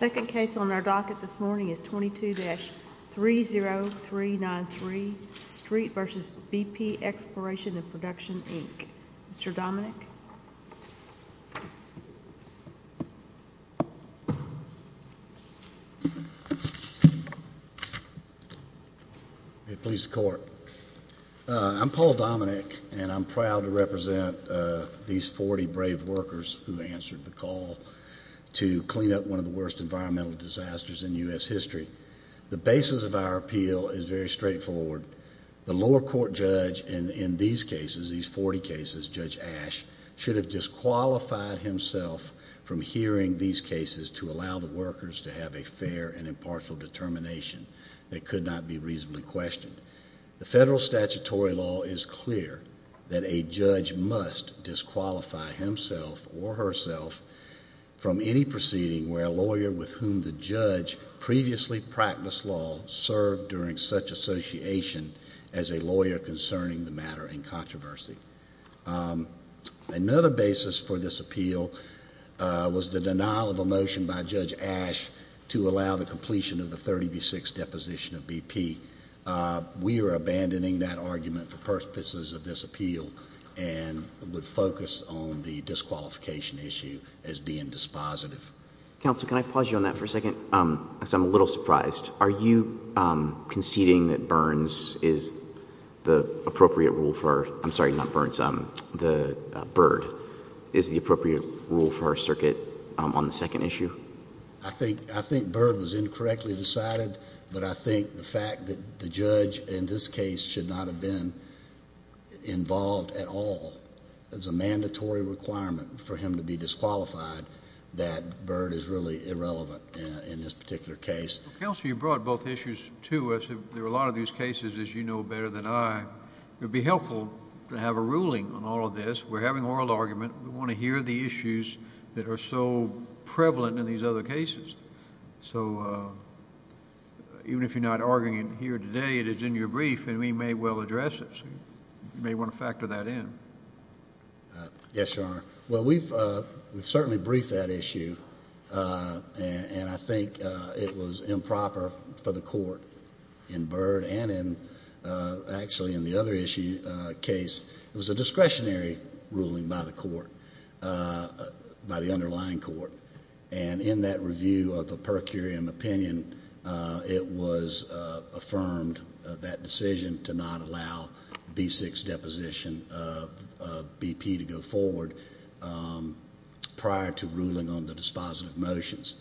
2nd case on our docket this morning is 22-30393, Street v. BP Expl & Prod, Inc. Mr. Dominick? I'm Paul Dominick and I'm proud to represent these 40 brave workers who answered the call to clean up one of the worst environmental disasters in U.S. history. The basis of our appeal is very straightforward. The lower court judge in these 40 cases, Judge Ash, should have disqualified himself from hearing these cases to allow the workers to have a fair and impartial determination that could not be reasonably questioned. The federal statutory law is clear that a judge must disqualify himself or herself from any proceeding where a lawyer with whom the judge previously practiced law served during such association as a lawyer concerning the matter in controversy. Another basis for this appeal was the denial of a motion by Judge Ash to allow the completion of the 30 v. 6 deposition of BP. We are abandoning that argument for purposes of this appeal and would focus on the disqualification issue as being dispositive. Counsel, can I pause you on that for a second because I'm a little surprised. Are you conceding that Burns is the appropriate rule for, I'm sorry, not Burns, Bird is the appropriate rule for our circuit on the second issue? I think Bird was incorrectly decided, but I think the fact that the judge in this case should not have been involved at all is a mandatory requirement for him to be disqualified that Bird is really irrelevant in this particular case. Counsel, you brought both issues to us. There are a lot of these cases, as you know better than I. It would be helpful to have a ruling on all of this. We're having oral argument. We want to hear the issues that are so prevalent in these other cases. So even if you're not arguing it here today, it is in your brief and we may well address it. You may want to factor that in. Yes, Your Honor. Well, we've certainly briefed that issue and I think it was improper for the court in Bird and actually in the other issue case. It was a discretionary ruling by the court, by the underlying court. And in that review of the per curiam opinion, it was affirmed that decision to not allow the B6 deposition of BP to go forward prior to ruling on the dispositive motions.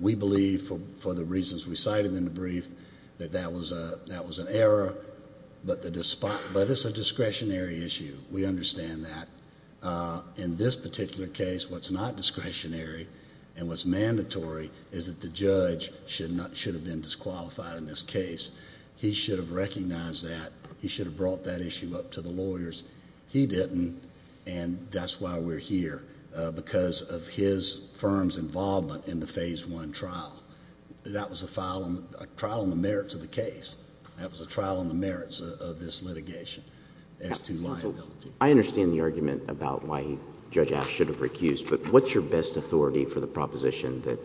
We believe for the reasons we cited in the brief that that was an error, but it's a discretionary issue. We understand that. In this particular case, what's not discretionary and what's mandatory is that the judge should have been disqualified in this case. He should have recognized that. He should have brought that issue up to the lawyers. He didn't and that's why we're here, because of his firm's involvement in the phase one trial. That was a trial on the merits of the case. That was a trial on the merits of this litigation as to liability. I understand the argument about why Judge Ash should have recused, but what's your best authority for the proposition that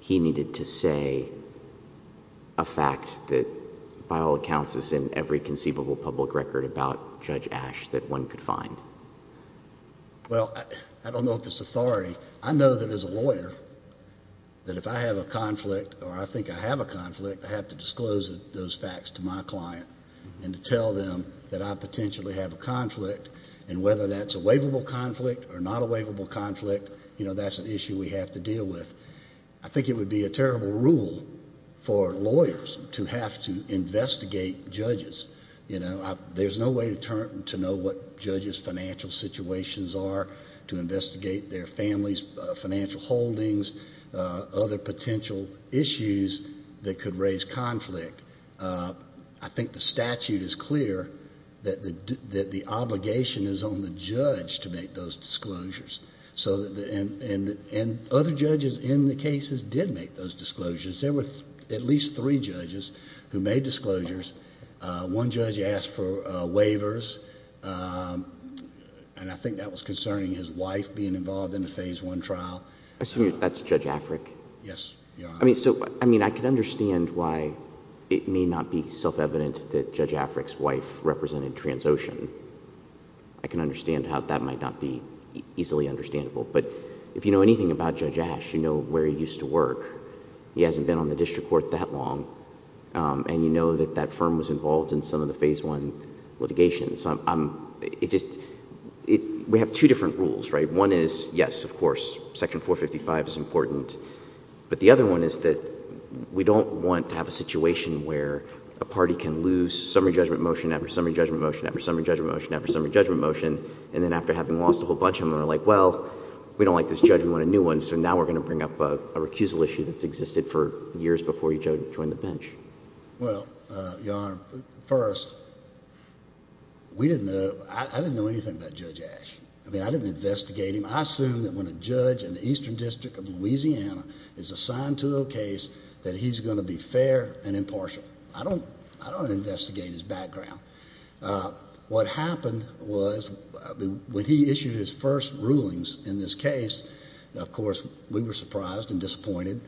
he needed to say a fact that by all accounts is in every conceivable public record about Judge Ash that one could find? Well, I don't know if it's authority. I know that as a lawyer that if I have a conflict or I think I have a conflict, I have to disclose those facts to my client and to tell them that I potentially have a conflict and whether that's a waivable conflict or not a waivable conflict, that's an issue we have to deal with. I think it would be a terrible rule for lawyers to have to investigate judges. There's no way to know what judges' financial situations are, to investigate their family's financial holdings, other potential issues that could raise conflict. I think the statute is clear that the obligation is on the judge to make those disclosures. So, and other judges in the cases did make those disclosures. There were at least three judges who made disclosures. One judge asked for waivers, and I think that was concerning his wife being involved in the Phase I trial. I assume that's Judge Afric? Yes, Your Honor. I mean, so, I mean, I can understand why it may not be self-evident that Judge Afric's wife represented Transocean. I can understand how that might not be easily understandable. But if you know anything about Judge Ash, you know where he used to work. He hasn't been on the district court that long, and you know that that firm was involved in some of the Phase I litigation. So I'm, it just, we have two different rules, right? One is, yes, of course, Section 455 is important, but the other one is that we don't want to have a situation where a party can lose summary judgment motion after summary judgment motion after summary judgment motion after summary judgment motion, and then after having lost a whole bunch of them, they're like, well, we don't like this judge, we want a new one. So now we're going to bring up a recusal issue that's existed for years before you joined the bench. Well, Your Honor, first, we didn't know, I didn't know anything about Judge Ash. I mean, I didn't investigate him. I assume that when a judge in the Eastern District of Louisiana is assigned to a case that he's going to be fair and impartial. I don't, I don't investigate his background. What happened was, when he issued his first rulings in this case, of course, we were surprised and disappointed.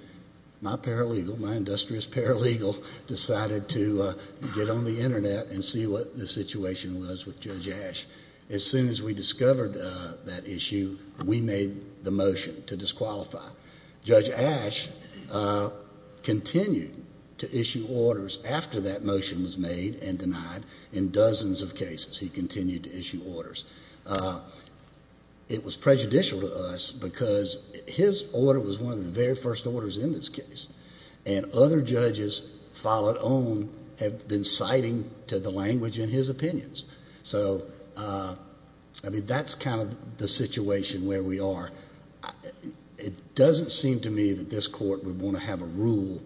My paralegal, my industrious paralegal, decided to get on the Internet and see what the situation was with Judge Ash. As soon as we discovered that issue, we made the motion to disqualify. Judge Ash continued to issue orders after that motion was made and denied. In dozens of cases, he continued to issue orders. It was prejudicial to us, because his order was one of the very first orders in this case, and other judges followed on, have been citing to the language in his opinions. So I mean, that's kind of the situation where we are. It doesn't seem to me that this court would want to have a rule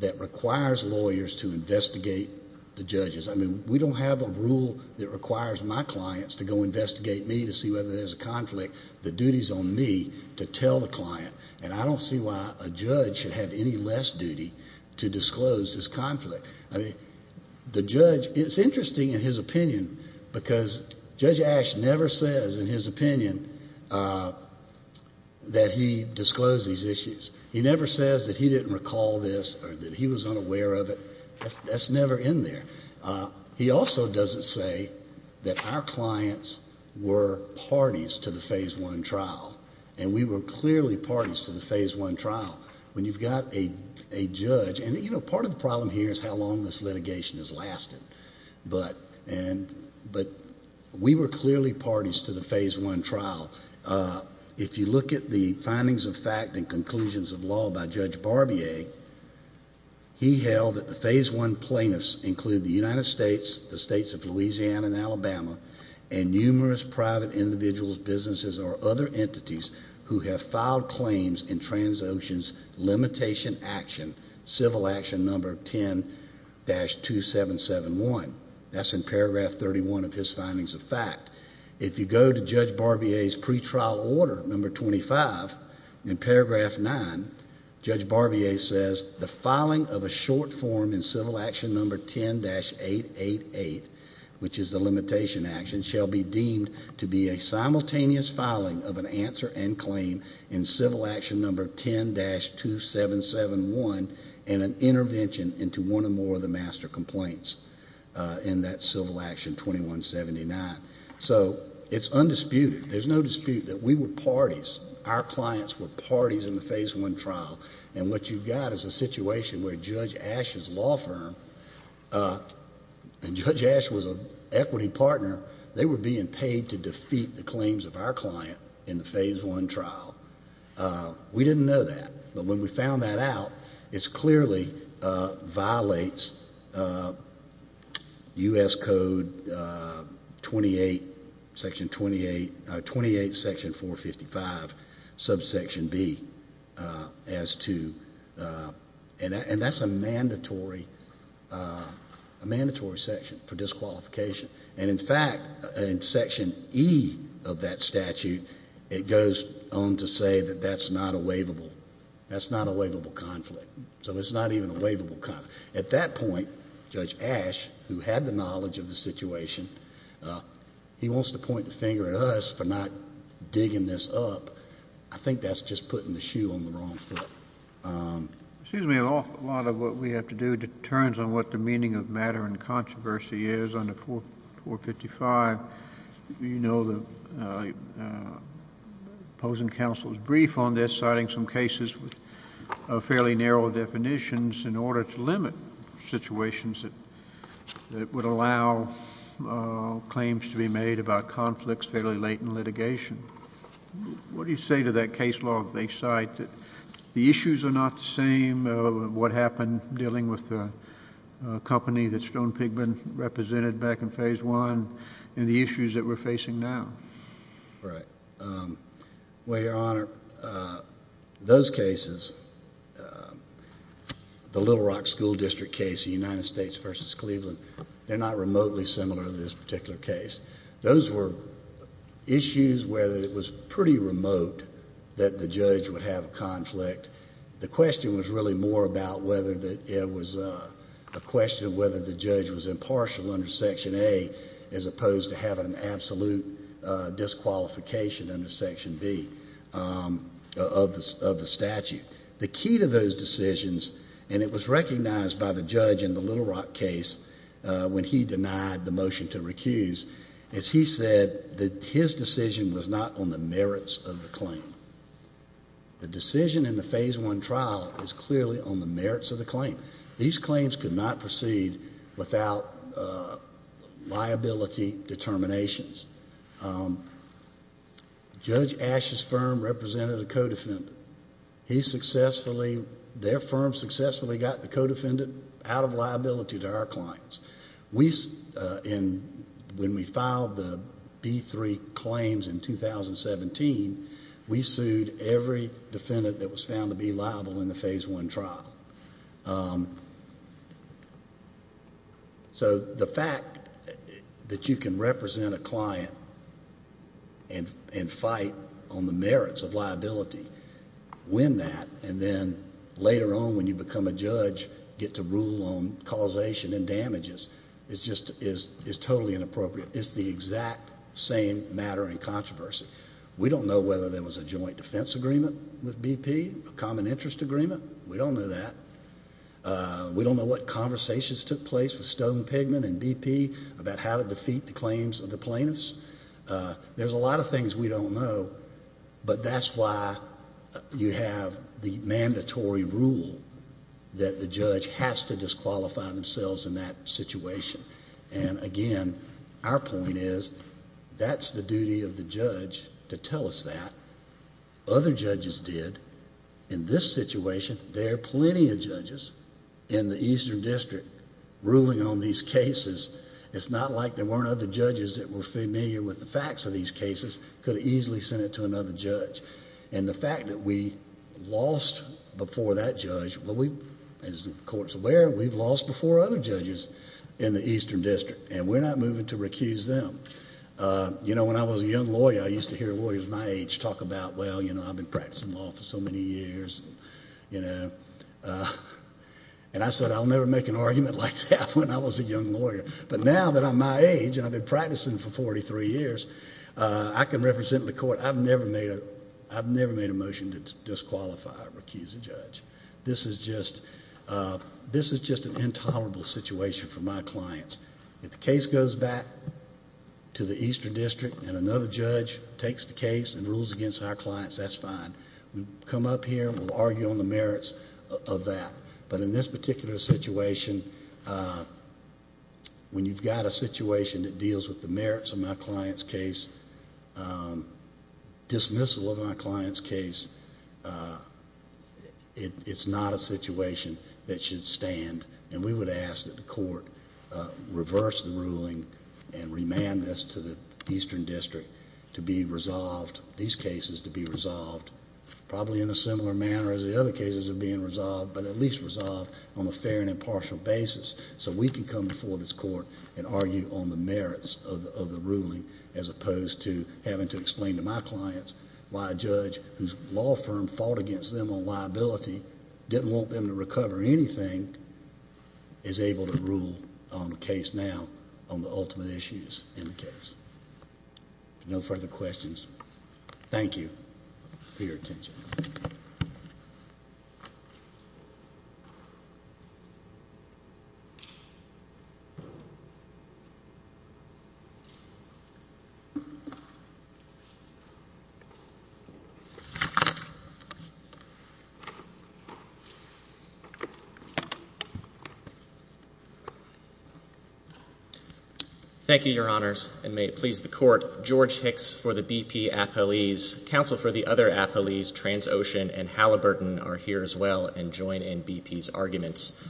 that requires lawyers to investigate the judges. I mean, we don't have a rule that requires my clients to go investigate me to see whether there's a conflict. The duty's on me to tell the client, and I don't see why a judge should have any less duty to disclose this conflict. I mean, the judge, it's interesting in his opinion, because Judge Ash never says in his that he disclosed these issues. He never says that he didn't recall this or that he was unaware of it. That's never in there. He also doesn't say that our clients were parties to the Phase I trial, and we were clearly parties to the Phase I trial. When you've got a judge, and you know, part of the problem here is how long this litigation has lasted, but we were clearly parties to the Phase I trial. Now, if you look at the findings of fact and conclusions of law by Judge Barbier, he held that the Phase I plaintiffs include the United States, the states of Louisiana and Alabama, and numerous private individuals, businesses, or other entities who have filed claims in Transocean's limitation action, civil action number 10-2771. That's in paragraph 31 of his findings of fact. If you go to Judge Barbier's pre-trial order, number 25, in paragraph 9, Judge Barbier says the filing of a short form in civil action number 10-888, which is the limitation action, shall be deemed to be a simultaneous filing of an answer and claim in civil action number 10-2771 and an intervention into one or more of the master complaints in that civil action number 10-2179. So it's undisputed, there's no dispute that we were parties, our clients were parties in the Phase I trial, and what you've got is a situation where Judge Ash's law firm, and Judge Ash was an equity partner, they were being paid to defeat the claims of our client in the Phase I trial. We didn't know that, but when we found that out, it was Section 28, Section 455, subsection B, as to, and that's a mandatory, a mandatory section for disqualification. And in fact, in Section E of that statute, it goes on to say that that's not a waivable, that's not a waivable conflict. So it's not even a waivable conflict. At that point, Judge Ash, who had the knowledge of the situation, he wants to point the finger at us for not digging this up. I think that's just putting the shoe on the wrong foot. Excuse me. A lot of what we have to do determines on what the meaning of matter and controversy is under 455. You know, the opposing counsel is brief on this, citing some cases with fairly large limit, situations that would allow claims to be made about conflicts fairly late in litigation. What do you say to that case law if they cite that the issues are not the same, what happened dealing with the company that Stone Pigman represented back in Phase I, and the issues that we're facing now? Right. Well, Your Honor, those cases, the Little Rock City case, the Little Rock City School District case, the United States v. Cleveland, they're not remotely similar to this particular case. Those were issues where it was pretty remote that the judge would have a conflict. The question was really more about whether it was a question of whether the judge was impartial under Section A as opposed to having an absolute disqualification under Section B of the statute. The key to those decisions, and it was recognized by the judge in the Little Rock case when he denied the motion to recuse, is he said that his decision was not on the merits of the claim. The decision in the Phase I trial is clearly on the merits of the claim. These claims could not proceed without liability determinations. Judge Ashe's firm represented a co-defendant. He successfully, their firm successfully got the co-defendant out of liability to our clients. We, when we filed the B-3 claims in 2017, we sued every defendant that was found to be liable in the Phase I trial. So the fact that you can represent a client and fight on the merits of liability, win that, and then later on when you become a judge get to rule on causation and damages is just, is totally inappropriate. It's the exact same matter and controversy. We don't know whether there was a joint defense agreement with BP, a common interest agreement. We don't know that. We don't know what conversations took place with Stone, Pigman and BP about how to defeat the claims of the plaintiffs. There's a lot of things we don't know, but that's why you have the mandatory rule that the judge has to disqualify themselves in that situation. And again, our point is that's the duty of the judge to tell us that. Other judges did. In this situation, there are plenty of judges in the Eastern District ruling on these cases. It's not like there weren't other judges that were familiar with the facts of these cases, could have easily sent it to another judge. And the fact that we lost before that judge, as the court's aware, we've lost before other judges in the Eastern District and we're not moving to recuse them. You know, when I was a young lawyer, I used to hear lawyers my age talk about, well, you know, I've been practicing law for so many years. And I said, I'll never make an argument like that when I was a young lawyer. But now that I'm my age and I've been practicing for 43 years, I can represent the court. I've never made a motion to disqualify or recuse a judge. This is just an intolerable situation for my clients. If the case goes back to the Eastern District and another judge takes the case and rules against our clients, that's fine. We come up here and we'll argue on the merits of that. But in this particular situation, when you've got a situation that deals with the merits of my client's case, dismissal of my client's case, it's not a situation that should stand. And we would ask that the court reverse the ruling and remand this to the Eastern District to be resolved, these cases to be resolved, probably in a similar manner as the other cases are being resolved, but at least resolved on a fair and impartial basis so we can come before this court and argue on the merits of the ruling as opposed to having to explain to my clients why a judge whose law firm fought against them on liability didn't want them to recover anything is able to rule on the case now on the ultimate issues in the case. No further questions. Thank you for your attention. Thank you, Your Honors, and may it please the court, George Hicks for the BP Appellees, counsel for the other appellees, Transocean and Halliburton are here as well and join in BP's arguments.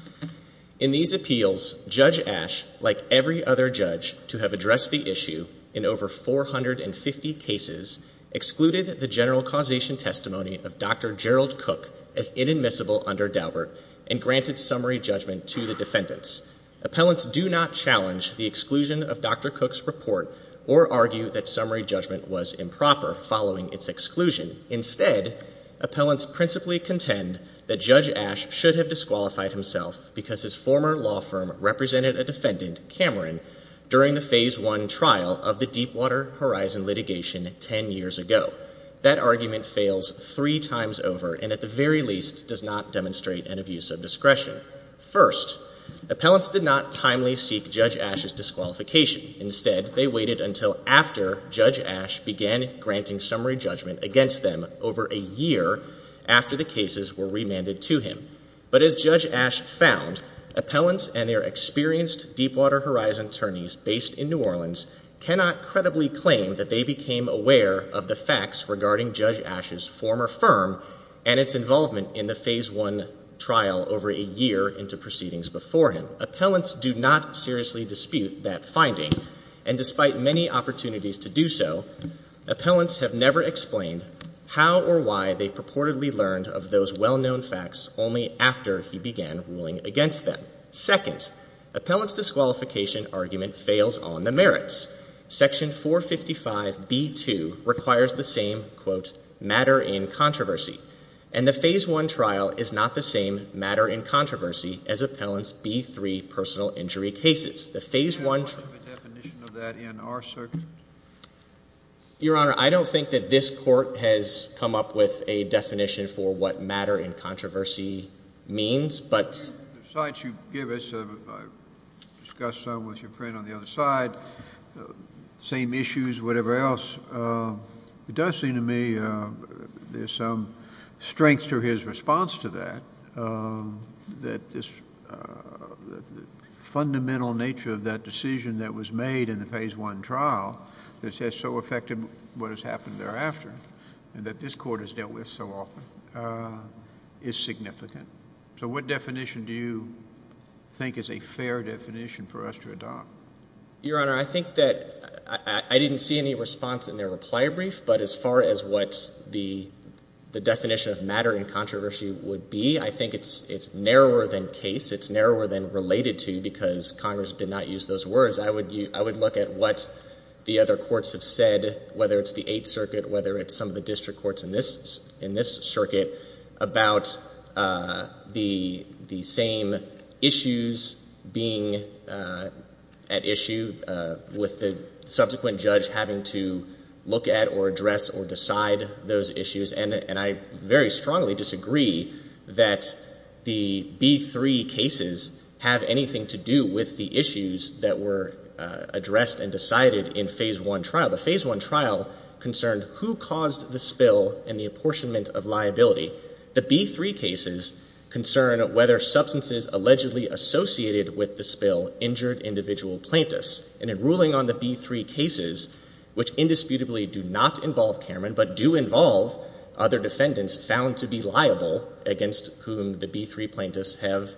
In these appeals, Judge Ash, like every other judge to have addressed the issue in over 450 cases, excluded the general causation testimony of Dr. Gerald Cook as inadmissible under Daubert and granted summary judgment to the defendants. Appellants do not challenge the exclusion of Dr. Cook's report or argue that summary judgment was improper following its exclusion. Instead, appellants principally contend that Judge Ash should have disqualified himself because his former law firm represented a defendant, Cameron, during the phase one trial of the Deepwater Horizon litigation ten years ago. That argument fails three times over and at the very least does not demonstrate an abuse of discretion. First, appellants did not timely seek Judge Ash's disqualification. Instead, they waited until after Judge Ash began granting summary judgment against them over a year after the cases were remanded to him. But as Judge Ash found, appellants and their experienced Deepwater Horizon attorneys based in New Orleans cannot credibly claim that they became aware of the facts regarding Judge Ash's former firm and its involvement in the phase one trial over a year into proceedings before him. Appellants do not seriously dispute that finding and despite many opportunities to do so, appellants have never explained how or why they purportedly learned of those well-known facts only after he began ruling against them. Second, appellants' disqualification argument fails on the merits. Section 455B2 requires the same, quote, matter in controversy. And the phase one trial is not the same matter in controversy as appellants' B3 personal injury cases. The phase one trial... Can you explain the definition of that in our circuit? Your Honor, I don't think that this Court has come up with a definition for what matter in controversy means, but... Besides you give us, discuss some with your friend on the other side, same issues, whatever else, it does seem to me there's some strength to his response to that, that this fundamental nature of that decision that was made in the phase one trial that says so affected what has happened thereafter and that this Court has dealt with so often is significant. So what definition do you think is a fair definition for us to adopt? Your Honor, I think that I didn't see any response in their reply brief, but as far as what the definition of matter in controversy would be, I think it's narrower than case. It's narrower than related to because Congress did not use those words. I would look at what the other courts have said, whether it's the Eighth Circuit, whether it's some of the district courts in this circuit, about the same issues being at issue with the subsequent judge having to look at or address or decide those issues. And I very strongly disagree that the B3 cases have anything to do with the issues that were addressed and decided in phase one trial. The phase one trial concerned who caused the spill and the apportionment of liability. The B3 cases concern whether substances allegedly associated with the spill injured individual plaintiffs. And in ruling on the B3 cases, which indisputably do not involve Cameron but do involve other defendants found to be liable against whom the B3 plaintiffs have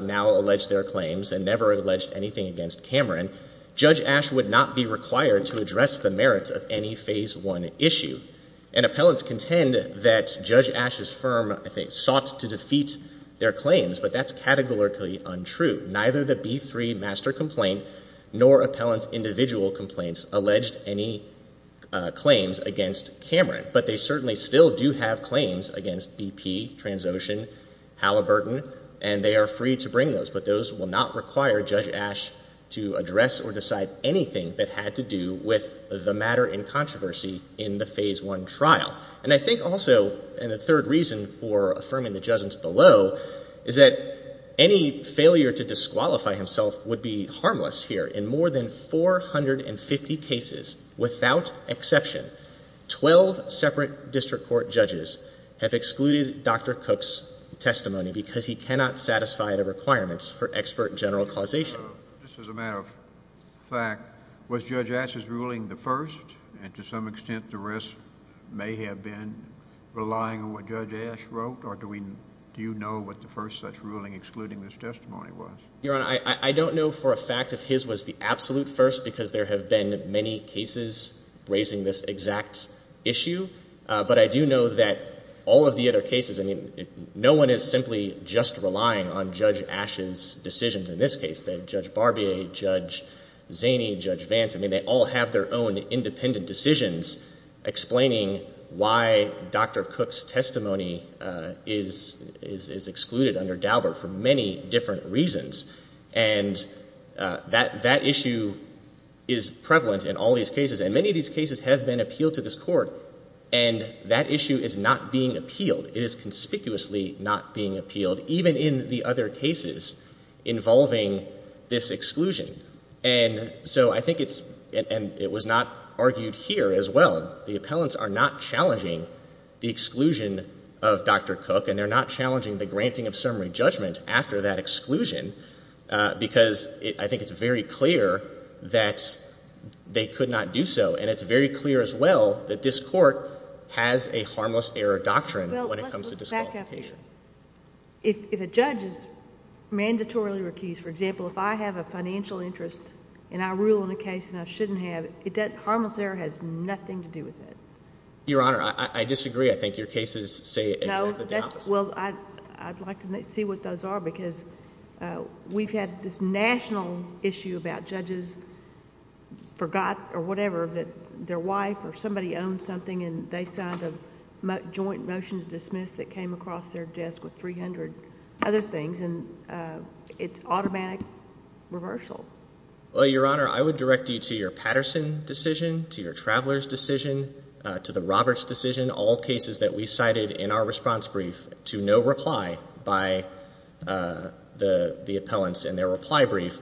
now alleged their claims and never alleged anything against Cameron, Judge Ash would not be required to address the merits of any phase one issue. And appellants contend that Judge Ash's firm sought to defeat their claims, but that's categorically untrue. Neither the B3 master complaint nor appellant's individual complaints alleged any claims against Cameron. But they certainly still do have claims against BP, Transocean, Halliburton, and they are free to bring those, but those will not require Judge Ash to address or decide anything that had to do with the matter in controversy in the phase one trial. And I think also, and the third reason for affirming the judgment below, is that any failure to disqualify himself would be harmless here. In more than 450 cases, without exception, 12 separate district court judges have excluded Dr. Cook's testimony because he cannot satisfy the requirements for expert general causation. This is a matter of fact. Was Judge Ash's ruling the first? And to some extent, the rest may have been relying on what Judge Ash wrote, or do we, do you know what the first such ruling excluding this testimony was? Your Honor, I don't know for a fact if his was the absolute first because there have been many cases raising this exact issue. But I do know that all of the other cases, I mean, no one is simply just relying on Judge Ash's decisions in this case. Judge Barbier, Judge Zaney, Judge Vance, I mean, they all have their own independent decisions explaining why Dr. Cook's testimony is excluded under Daubert for many different reasons. And that issue is prevalent in all these cases. And many of these cases have been appealed to this Court, and that issue is not being appealed. It is conspicuously not being appealed, even in the other cases involving this exclusion. And so I think it's, and it was not argued here as well. The appellants are not challenging the exclusion of Dr. Cook, and they're not challenging the granting of summary judgment after that exclusion because I think it's very clear that they could not do so. And it's very clear as well that this Court has a harmless error doctrine when it comes to disqualification. Well, let's go back up here. If a judge is mandatorily recused, for example, if I have a financial interest and I rule in a case and I shouldn't have, that harmless error has nothing to do with it. Your Honor, I disagree. I think your cases say exactly the opposite. Well, I'd like to see what those are because we've had this national issue about judges forgot or whatever that their wife or somebody owned something and they signed a joint motion to dismiss that came across their desk with 300 other things, and it's automatic reversal. Well, Your Honor, I would direct you to your Patterson decision, to your Traveler's decision, to the Roberts decision, all cases that we cited in our response brief to no reply by the appellants in their reply brief,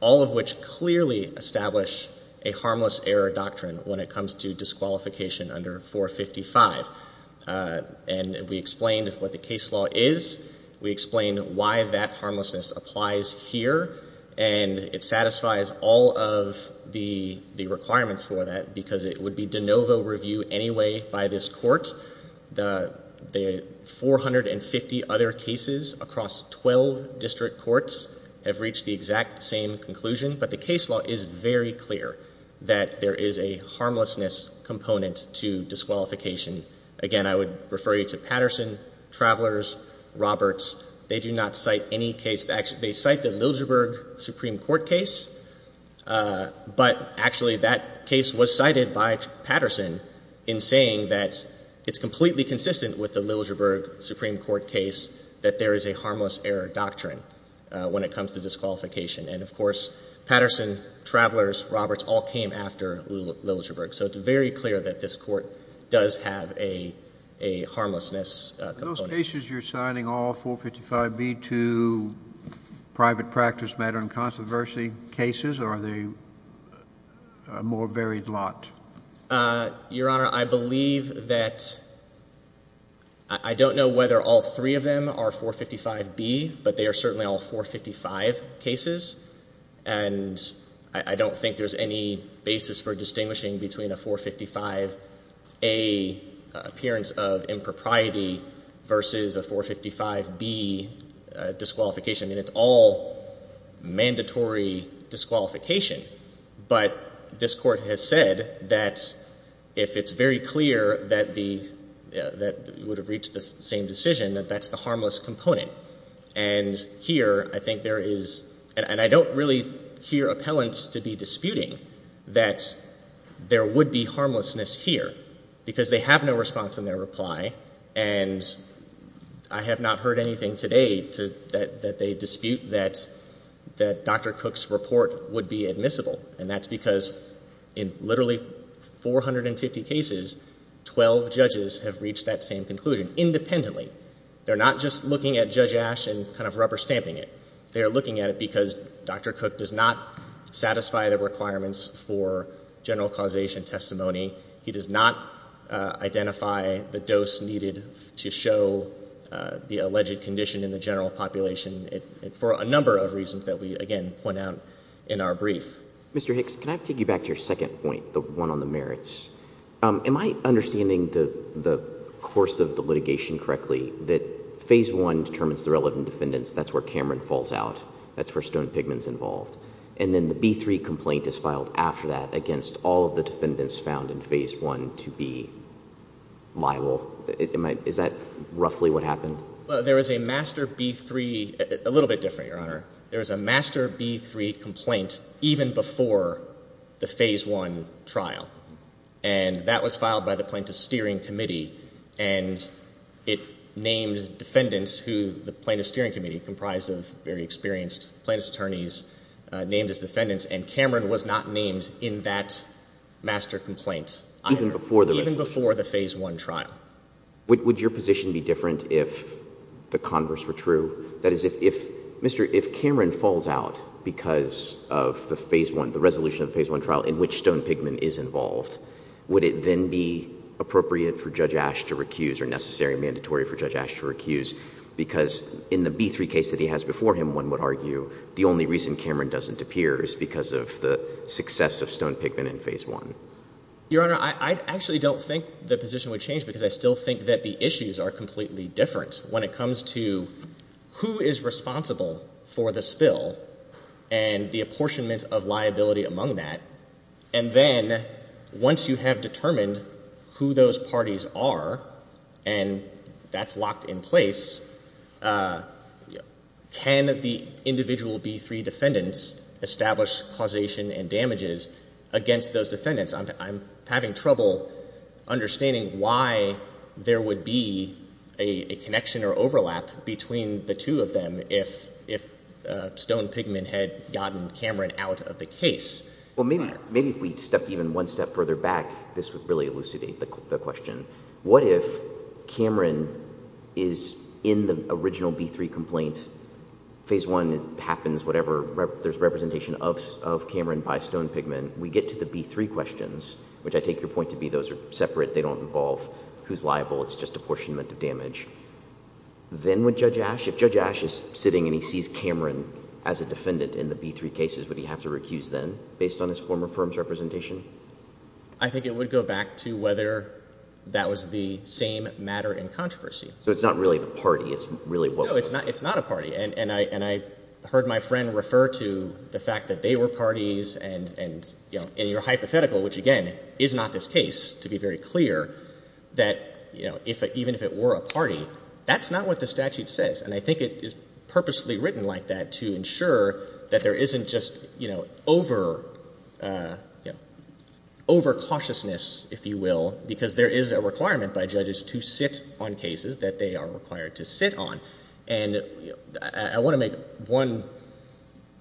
all of which clearly establish a harmless error doctrine when it comes to disqualification under 455. And we explained what the case law is. We explained why that harmlessness applies here, and it satisfies all of the requirements for that because it would be de novo review anyway by this court. The 450 other cases across 12 district courts have reached the exact same conclusion, but the case law is very clear that there is a harmlessness component to disqualification. Again, I would refer you to Patterson, Traveler's, Roberts. They do not cite any case. They cite the Liljeburg Supreme Court case, but actually that case was cited by Patterson in saying that it's completely consistent with the Liljeburg Supreme Court case that there is a harmless error doctrine when it comes to disqualification. And of course, Patterson, Traveler's, Roberts all came after Liljeburg, so it's very clear that this court does have a harmlessness component. Those cases you're citing, all 455B to private practice matter and controversy cases, are they a more varied lot? Your Honor, I believe that I don't know whether all three of them are 455B, but they are certainly all 455 cases, and I don't think there's any basis for distinguishing between a 455A appearance of impropriety versus a 455B disqualification. I mean, it's all mandatory disqualification, but this Court has said that if it's very clear that the — that it would have reached the same decision, that that's the harmless component. And here, I think there is — and I don't really hear appellants to be disputing that there would be harmlessness here, because they have no response in their reply, and I have not heard anything today to — that they dispute that — that Dr. Cook's report would be admissible, and that's because in literally 450 cases, 12 judges have reached that same conclusion, independently. They're not just looking at Judge Ash and kind of rubber stamping it. They are looking at it because Dr. Cook does not satisfy the requirements for general causation testimony. He does not identify the dose needed to show the alleged condition in the general population, for a number of reasons that we, again, point out in our brief. Mr. Hicks, can I take you back to your second point, the one on the merits? Am I understanding the course of the litigation correctly, that Phase I determines the relevant defendants? That's where Cameron falls out. That's where Stone-Pigman is involved. And then the B3 complaint is filed after that against all of the defendants found in Phase I to be liable. Is that roughly what happened? There is a Master B3 — a little bit different, Your Honor. There is a Master B3 complaint even before the Phase I trial, and that was filed by the Plaintiff's Steering Committee, and it named defendants who the Plaintiff's Steering Committee, comprised of very experienced plaintiff's attorneys, named as defendants, and Cameron was not named in that Master complaint either. Even before the — Even before the Phase I trial. Would your position be different if the converse were true? That is, if — Mr. — if Cameron falls out because of the Phase I — the resolution of the Phase I trial in which Stone-Pigman is involved, would it then be appropriate for Judge Asch to recuse, or necessary, mandatory for Judge Asch to recuse? Because in the B3 case that he has before him, one would argue the only reason Cameron doesn't appear is because of the success of Stone-Pigman in Phase I. Your Honor, I actually don't think the position would change because I still think that the issues are completely different when it comes to who is responsible for the spill and the apportionment of liability among that. And then, once you have determined who those parties are, and that's locked in place, can the individual B3 defendants establish causation and damages against those defendants? I'm having trouble understanding why there would be a connection or overlap between the two of them if Stone-Pigman had gotten Cameron out of the case. Well, maybe if we step even one step further back, this would really elucidate the question. What if Cameron is in the original B3 complaint, Phase I happens, whatever, there's representation of Cameron by Stone-Pigman, we get to the B3 questions, which I take your point to be those are separate, they don't involve who's liable, it's just apportionment of damage. Then would Judge Asch — if Judge Asch is sitting and he sees Cameron as a defendant in the B3 cases, would he have to recuse them based on his former firm's representation? I think it would go back to whether that was the same matter in controversy. So it's not really the party, it's really what was — No, it's not a party. And I heard my friend refer to the fact that they were parties, and in your hypothetical, which again, is not this case, to be very clear, that even if it were a party, that's not what the statute says. And I think it is purposely written like that to ensure that there isn't just, you know, over — you know, over-cautiousness, if you will, because there is a requirement by judges to sit on cases that they are required to sit on. And I want to make one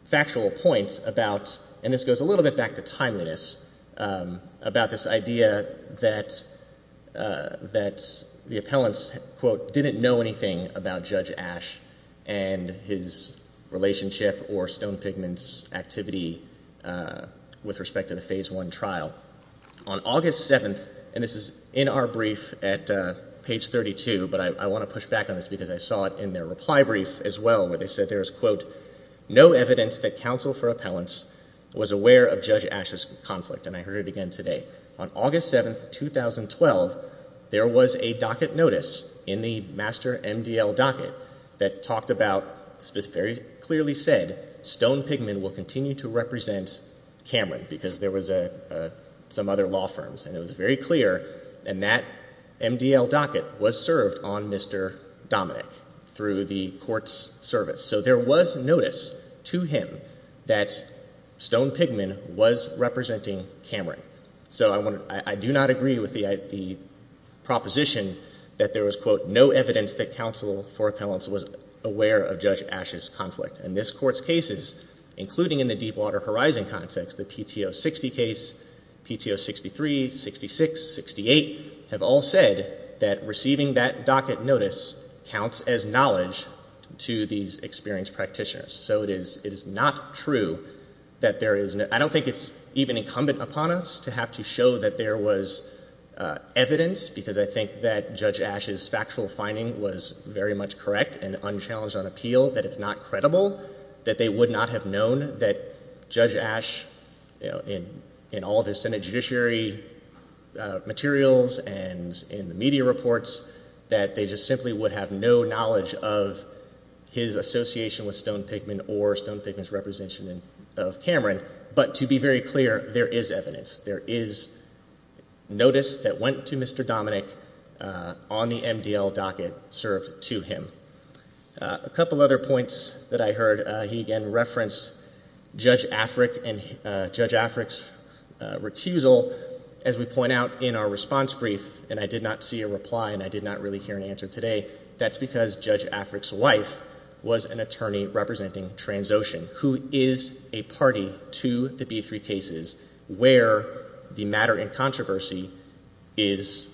factual point about — and this goes a little bit back to timeliness — about this idea that the appellants, quote, didn't know anything about Judge Ash and his relationship or Stone-Pigman's activity with respect to the Phase I trial. On August 7th — and this is in our brief at page 32, but I want to push back on this because I saw it in their reply brief as well, where they said there is, quote, no evidence that counsel for appellants was aware of Judge Ash's conflict. And I heard it again today. On August 7th, 2012, there was a docket notice in the master MDL docket that talked about — very clearly said Stone-Pigman will continue to represent Cameron because there was some other law firms. And it was very clear. And that MDL docket was served on Mr. Dominick through the court's service. So there was notice to him that Stone-Pigman was representing Cameron. So I do not agree with the proposition that there was, quote, no evidence that counsel for appellants was aware of Judge Ash's conflict. And this Court's cases, including in the Deep Water Horizon context, the PTO 60 case, PTO 63, 66, 68, have all said that receiving that docket notice counts as knowledge to these experienced practitioners. So it is not true that there is — I don't think it's even incumbent upon us to have to show that there was evidence, because I think that Judge Ash's factual finding was very much correct and unchallenged on appeal, that it's not credible, that they would not have known that Judge Ash, you know, in all of his Senate judiciary materials and in the media reports, that they just simply would have no knowledge of his association with Stone-Pigman or Stone-Pigman's representation of Cameron. But to be very clear, there is evidence. There is notice that went to Mr. Dominick on the MDL docket served to him. A couple other points that I heard. He again referenced Judge Afric and Judge Afric's recusal. As we point out in our response brief, and I did not see a reply and I did not really hear an answer today, that's because Judge Afric's wife was an attorney representing Transocean, who is a party to the B-3 cases where the matter in controversy is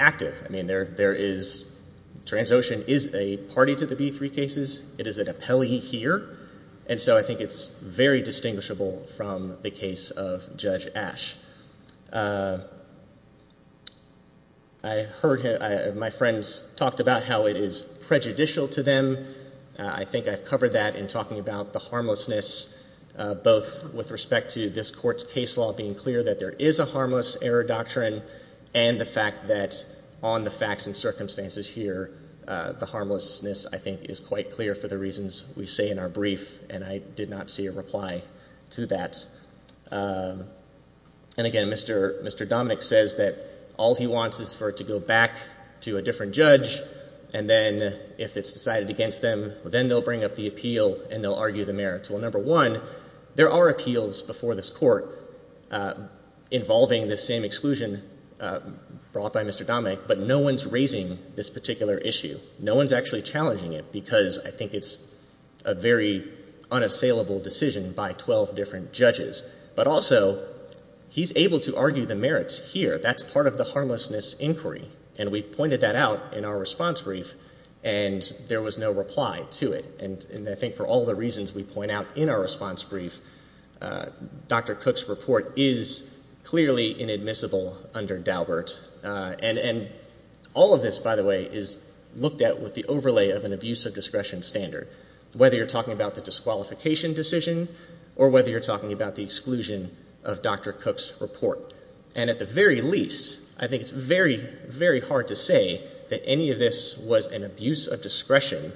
active. I mean, there is — Transocean is a party to the B-3 cases. It is an appellee here. And so I think it's very distinguishable from the case of Judge Ash. I heard — my friends talked about how it is prejudicial to them. I think I've covered that in talking about the harmlessness, both with respect to this Court's case law being clear that there is a harmless error doctrine and the fact that on the facts and circumstances here the harmlessness, I think, is quite clear for the reasons we say in our brief. And I did not see a reply to that. And again, Mr. Dominick says that all he wants is for it to go back to a different judge and then if it's decided against them, well, then they'll bring up the appeal and they'll argue the merits. Well, number one, there are appeals before this Court involving the same exclusion brought by Mr. Dominick, but no one's raising this particular issue. No one's actually challenging it, because I think it's a very unassailable decision by 12 different judges. But also, he's able to argue the merits here. That's part of the response brief, and there was no reply to it. And I think for all the reasons we point out in our response brief, Dr. Cook's report is clearly inadmissible under Daubert. And all of this, by the way, is looked at with the overlay of an abuse of discretion standard, whether you're talking about the disqualification decision or whether you're talking about the exclusion of Dr. Cook's report. And at the very least, I think it's very, very hard to say that any of this was an abuse of discretion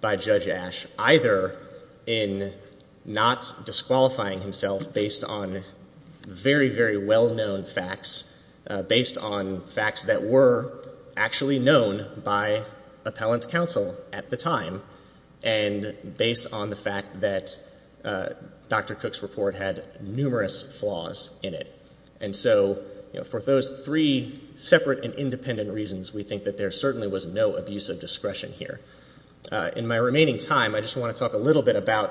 by Judge Ash, either in not disqualifying himself based on very, very well-known facts, based on facts that were actually known by appellant's counsel at the time, and based on the fact that Dr. Cook's report had numerous flaws in it. And I think that's a very, very hard thing to say. And so, you know, for those three separate and independent reasons, we think that there certainly was no abuse of discretion here. In my remaining time, I just want to talk a little bit about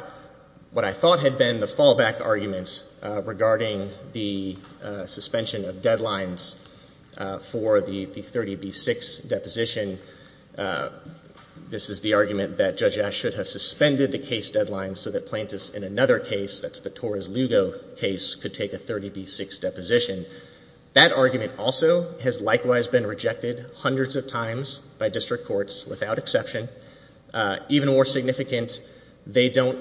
what I thought had been the fallback argument regarding the suspension of deadlines for the 30B6 deposition. This is the argument that Judge Ash should have suspended the case deadline so that plaintiffs in another case, that's the Torres Lugo case, could take a 30B6 deposition. That argument also has likewise been rejected hundreds of times by district courts without exception. Even more significant, they don't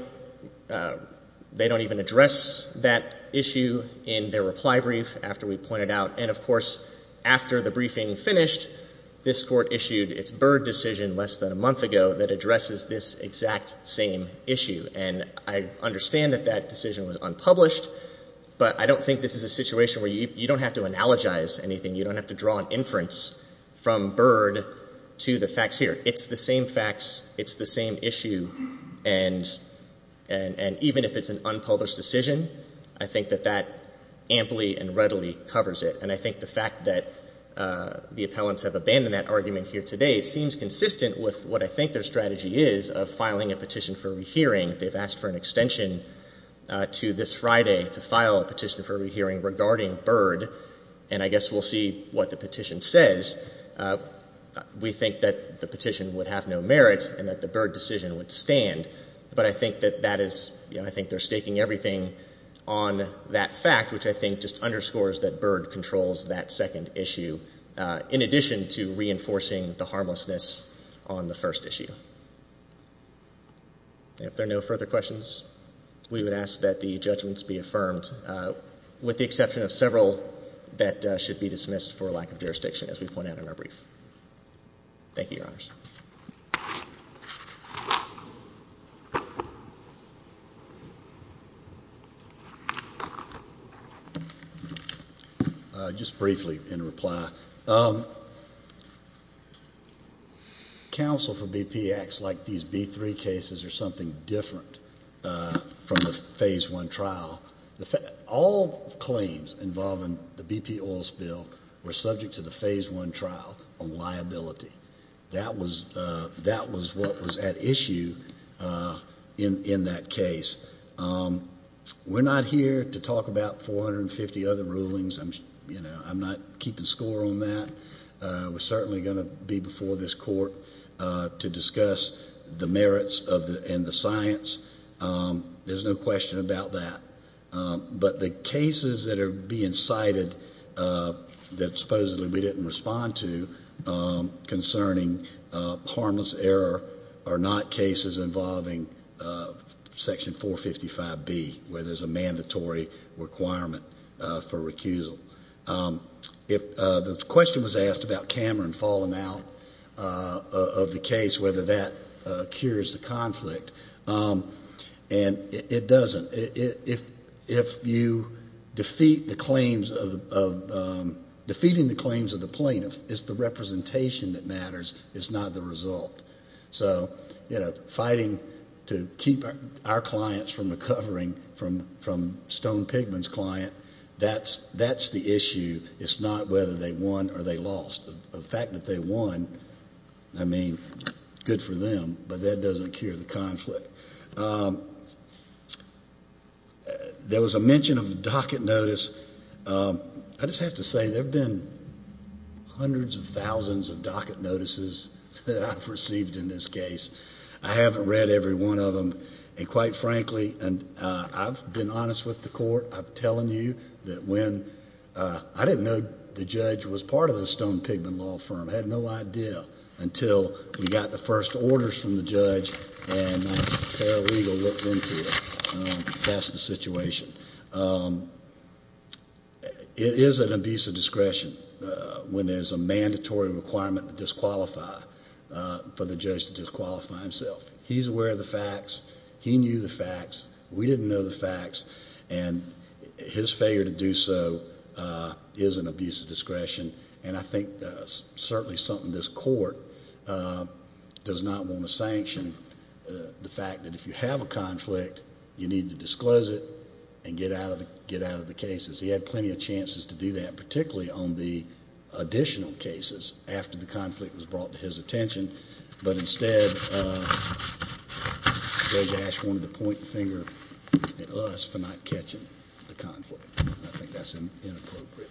even address that issue in their reply brief after we pointed out. And of course, after the briefing finished, this court issued its Byrd decision less than a month ago that addresses this exact same issue. And I understand that that decision was unpublished, but I don't think this is a situation where you don't have to analogize anything. You don't have to draw an inference from Byrd to the facts here. It's the same facts. It's the same issue. And even if it's an unpublished decision, I think that that amply and readily covers it. And I think the fact that the appellants have abandoned that what I think their strategy is of filing a petition for rehearing. They've asked for an extension to this Friday to file a petition for rehearing regarding Byrd. And I guess we'll see what the petition says. We think that the petition would have no merit and that the Byrd decision would stand. But I think that that is, you know, I think they're staking everything on that fact, which I think just underscores that Byrd controls that second issue, in addition to reinforcing the harmlessness on the first issue. And if there are no further questions, we would ask that the judgments be affirmed, with the exception of several that should be dismissed for lack of jurisdiction, as we point out in our brief. Thank you, Your Honor. I would like to reply. Counsel for BP acts like these B-3 cases are something different from the Phase I trial. All claims involving the BP oil spill were subject to the Phase I trial on liability. That was what was at issue in that case. We're not here to talk about 450 other rulings. You know, I'm not keeping score on that. We're certainly going to be before this Court to discuss the merits and the science. There's no question about that. But the cases that are being cited that supposedly we didn't respond to concerning harmless error are not cases involving Section 455B, where there's a mandatory exemption requirement for recusal. If the question was asked about Cameron falling out of the case, whether that cures the conflict, and it doesn't. If you defeat the claims of the plaintiff, it's the representation that matters. It's not the result. So, you know, fighting to keep our clients from recovering from Stone-Pigman's client, that's the issue. It's not whether they won or they lost. The fact that they won, I mean, good for them, but that doesn't cure the conflict. There was a mention of a docket notice. I just have to say, there have been hundreds of thousands of docket notices that I've received in this case. I haven't read every one of them. I've been honest with the Court. I've been telling you that when, I didn't know the judge was part of the Stone-Pigman law firm. I had no idea until we got the first orders from the judge and a fair legal looked into it. That's the situation. It is an abuse of discretion when there's a mandatory requirement to disqualify for a conflict. He's aware of the facts. He knew the facts. We didn't know the facts. His failure to do so is an abuse of discretion. I think that's certainly something this Court does not want to sanction, the fact that if you have a conflict, you need to disclose it and get out of the cases. He had plenty of chances to do that, particularly on the additional cases after the conflict was brought to his attention. But instead, Judge Ash wanted to point the finger at us for not catching the conflict. I think that's inappropriate.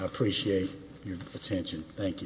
I appreciate your attention. Thank you.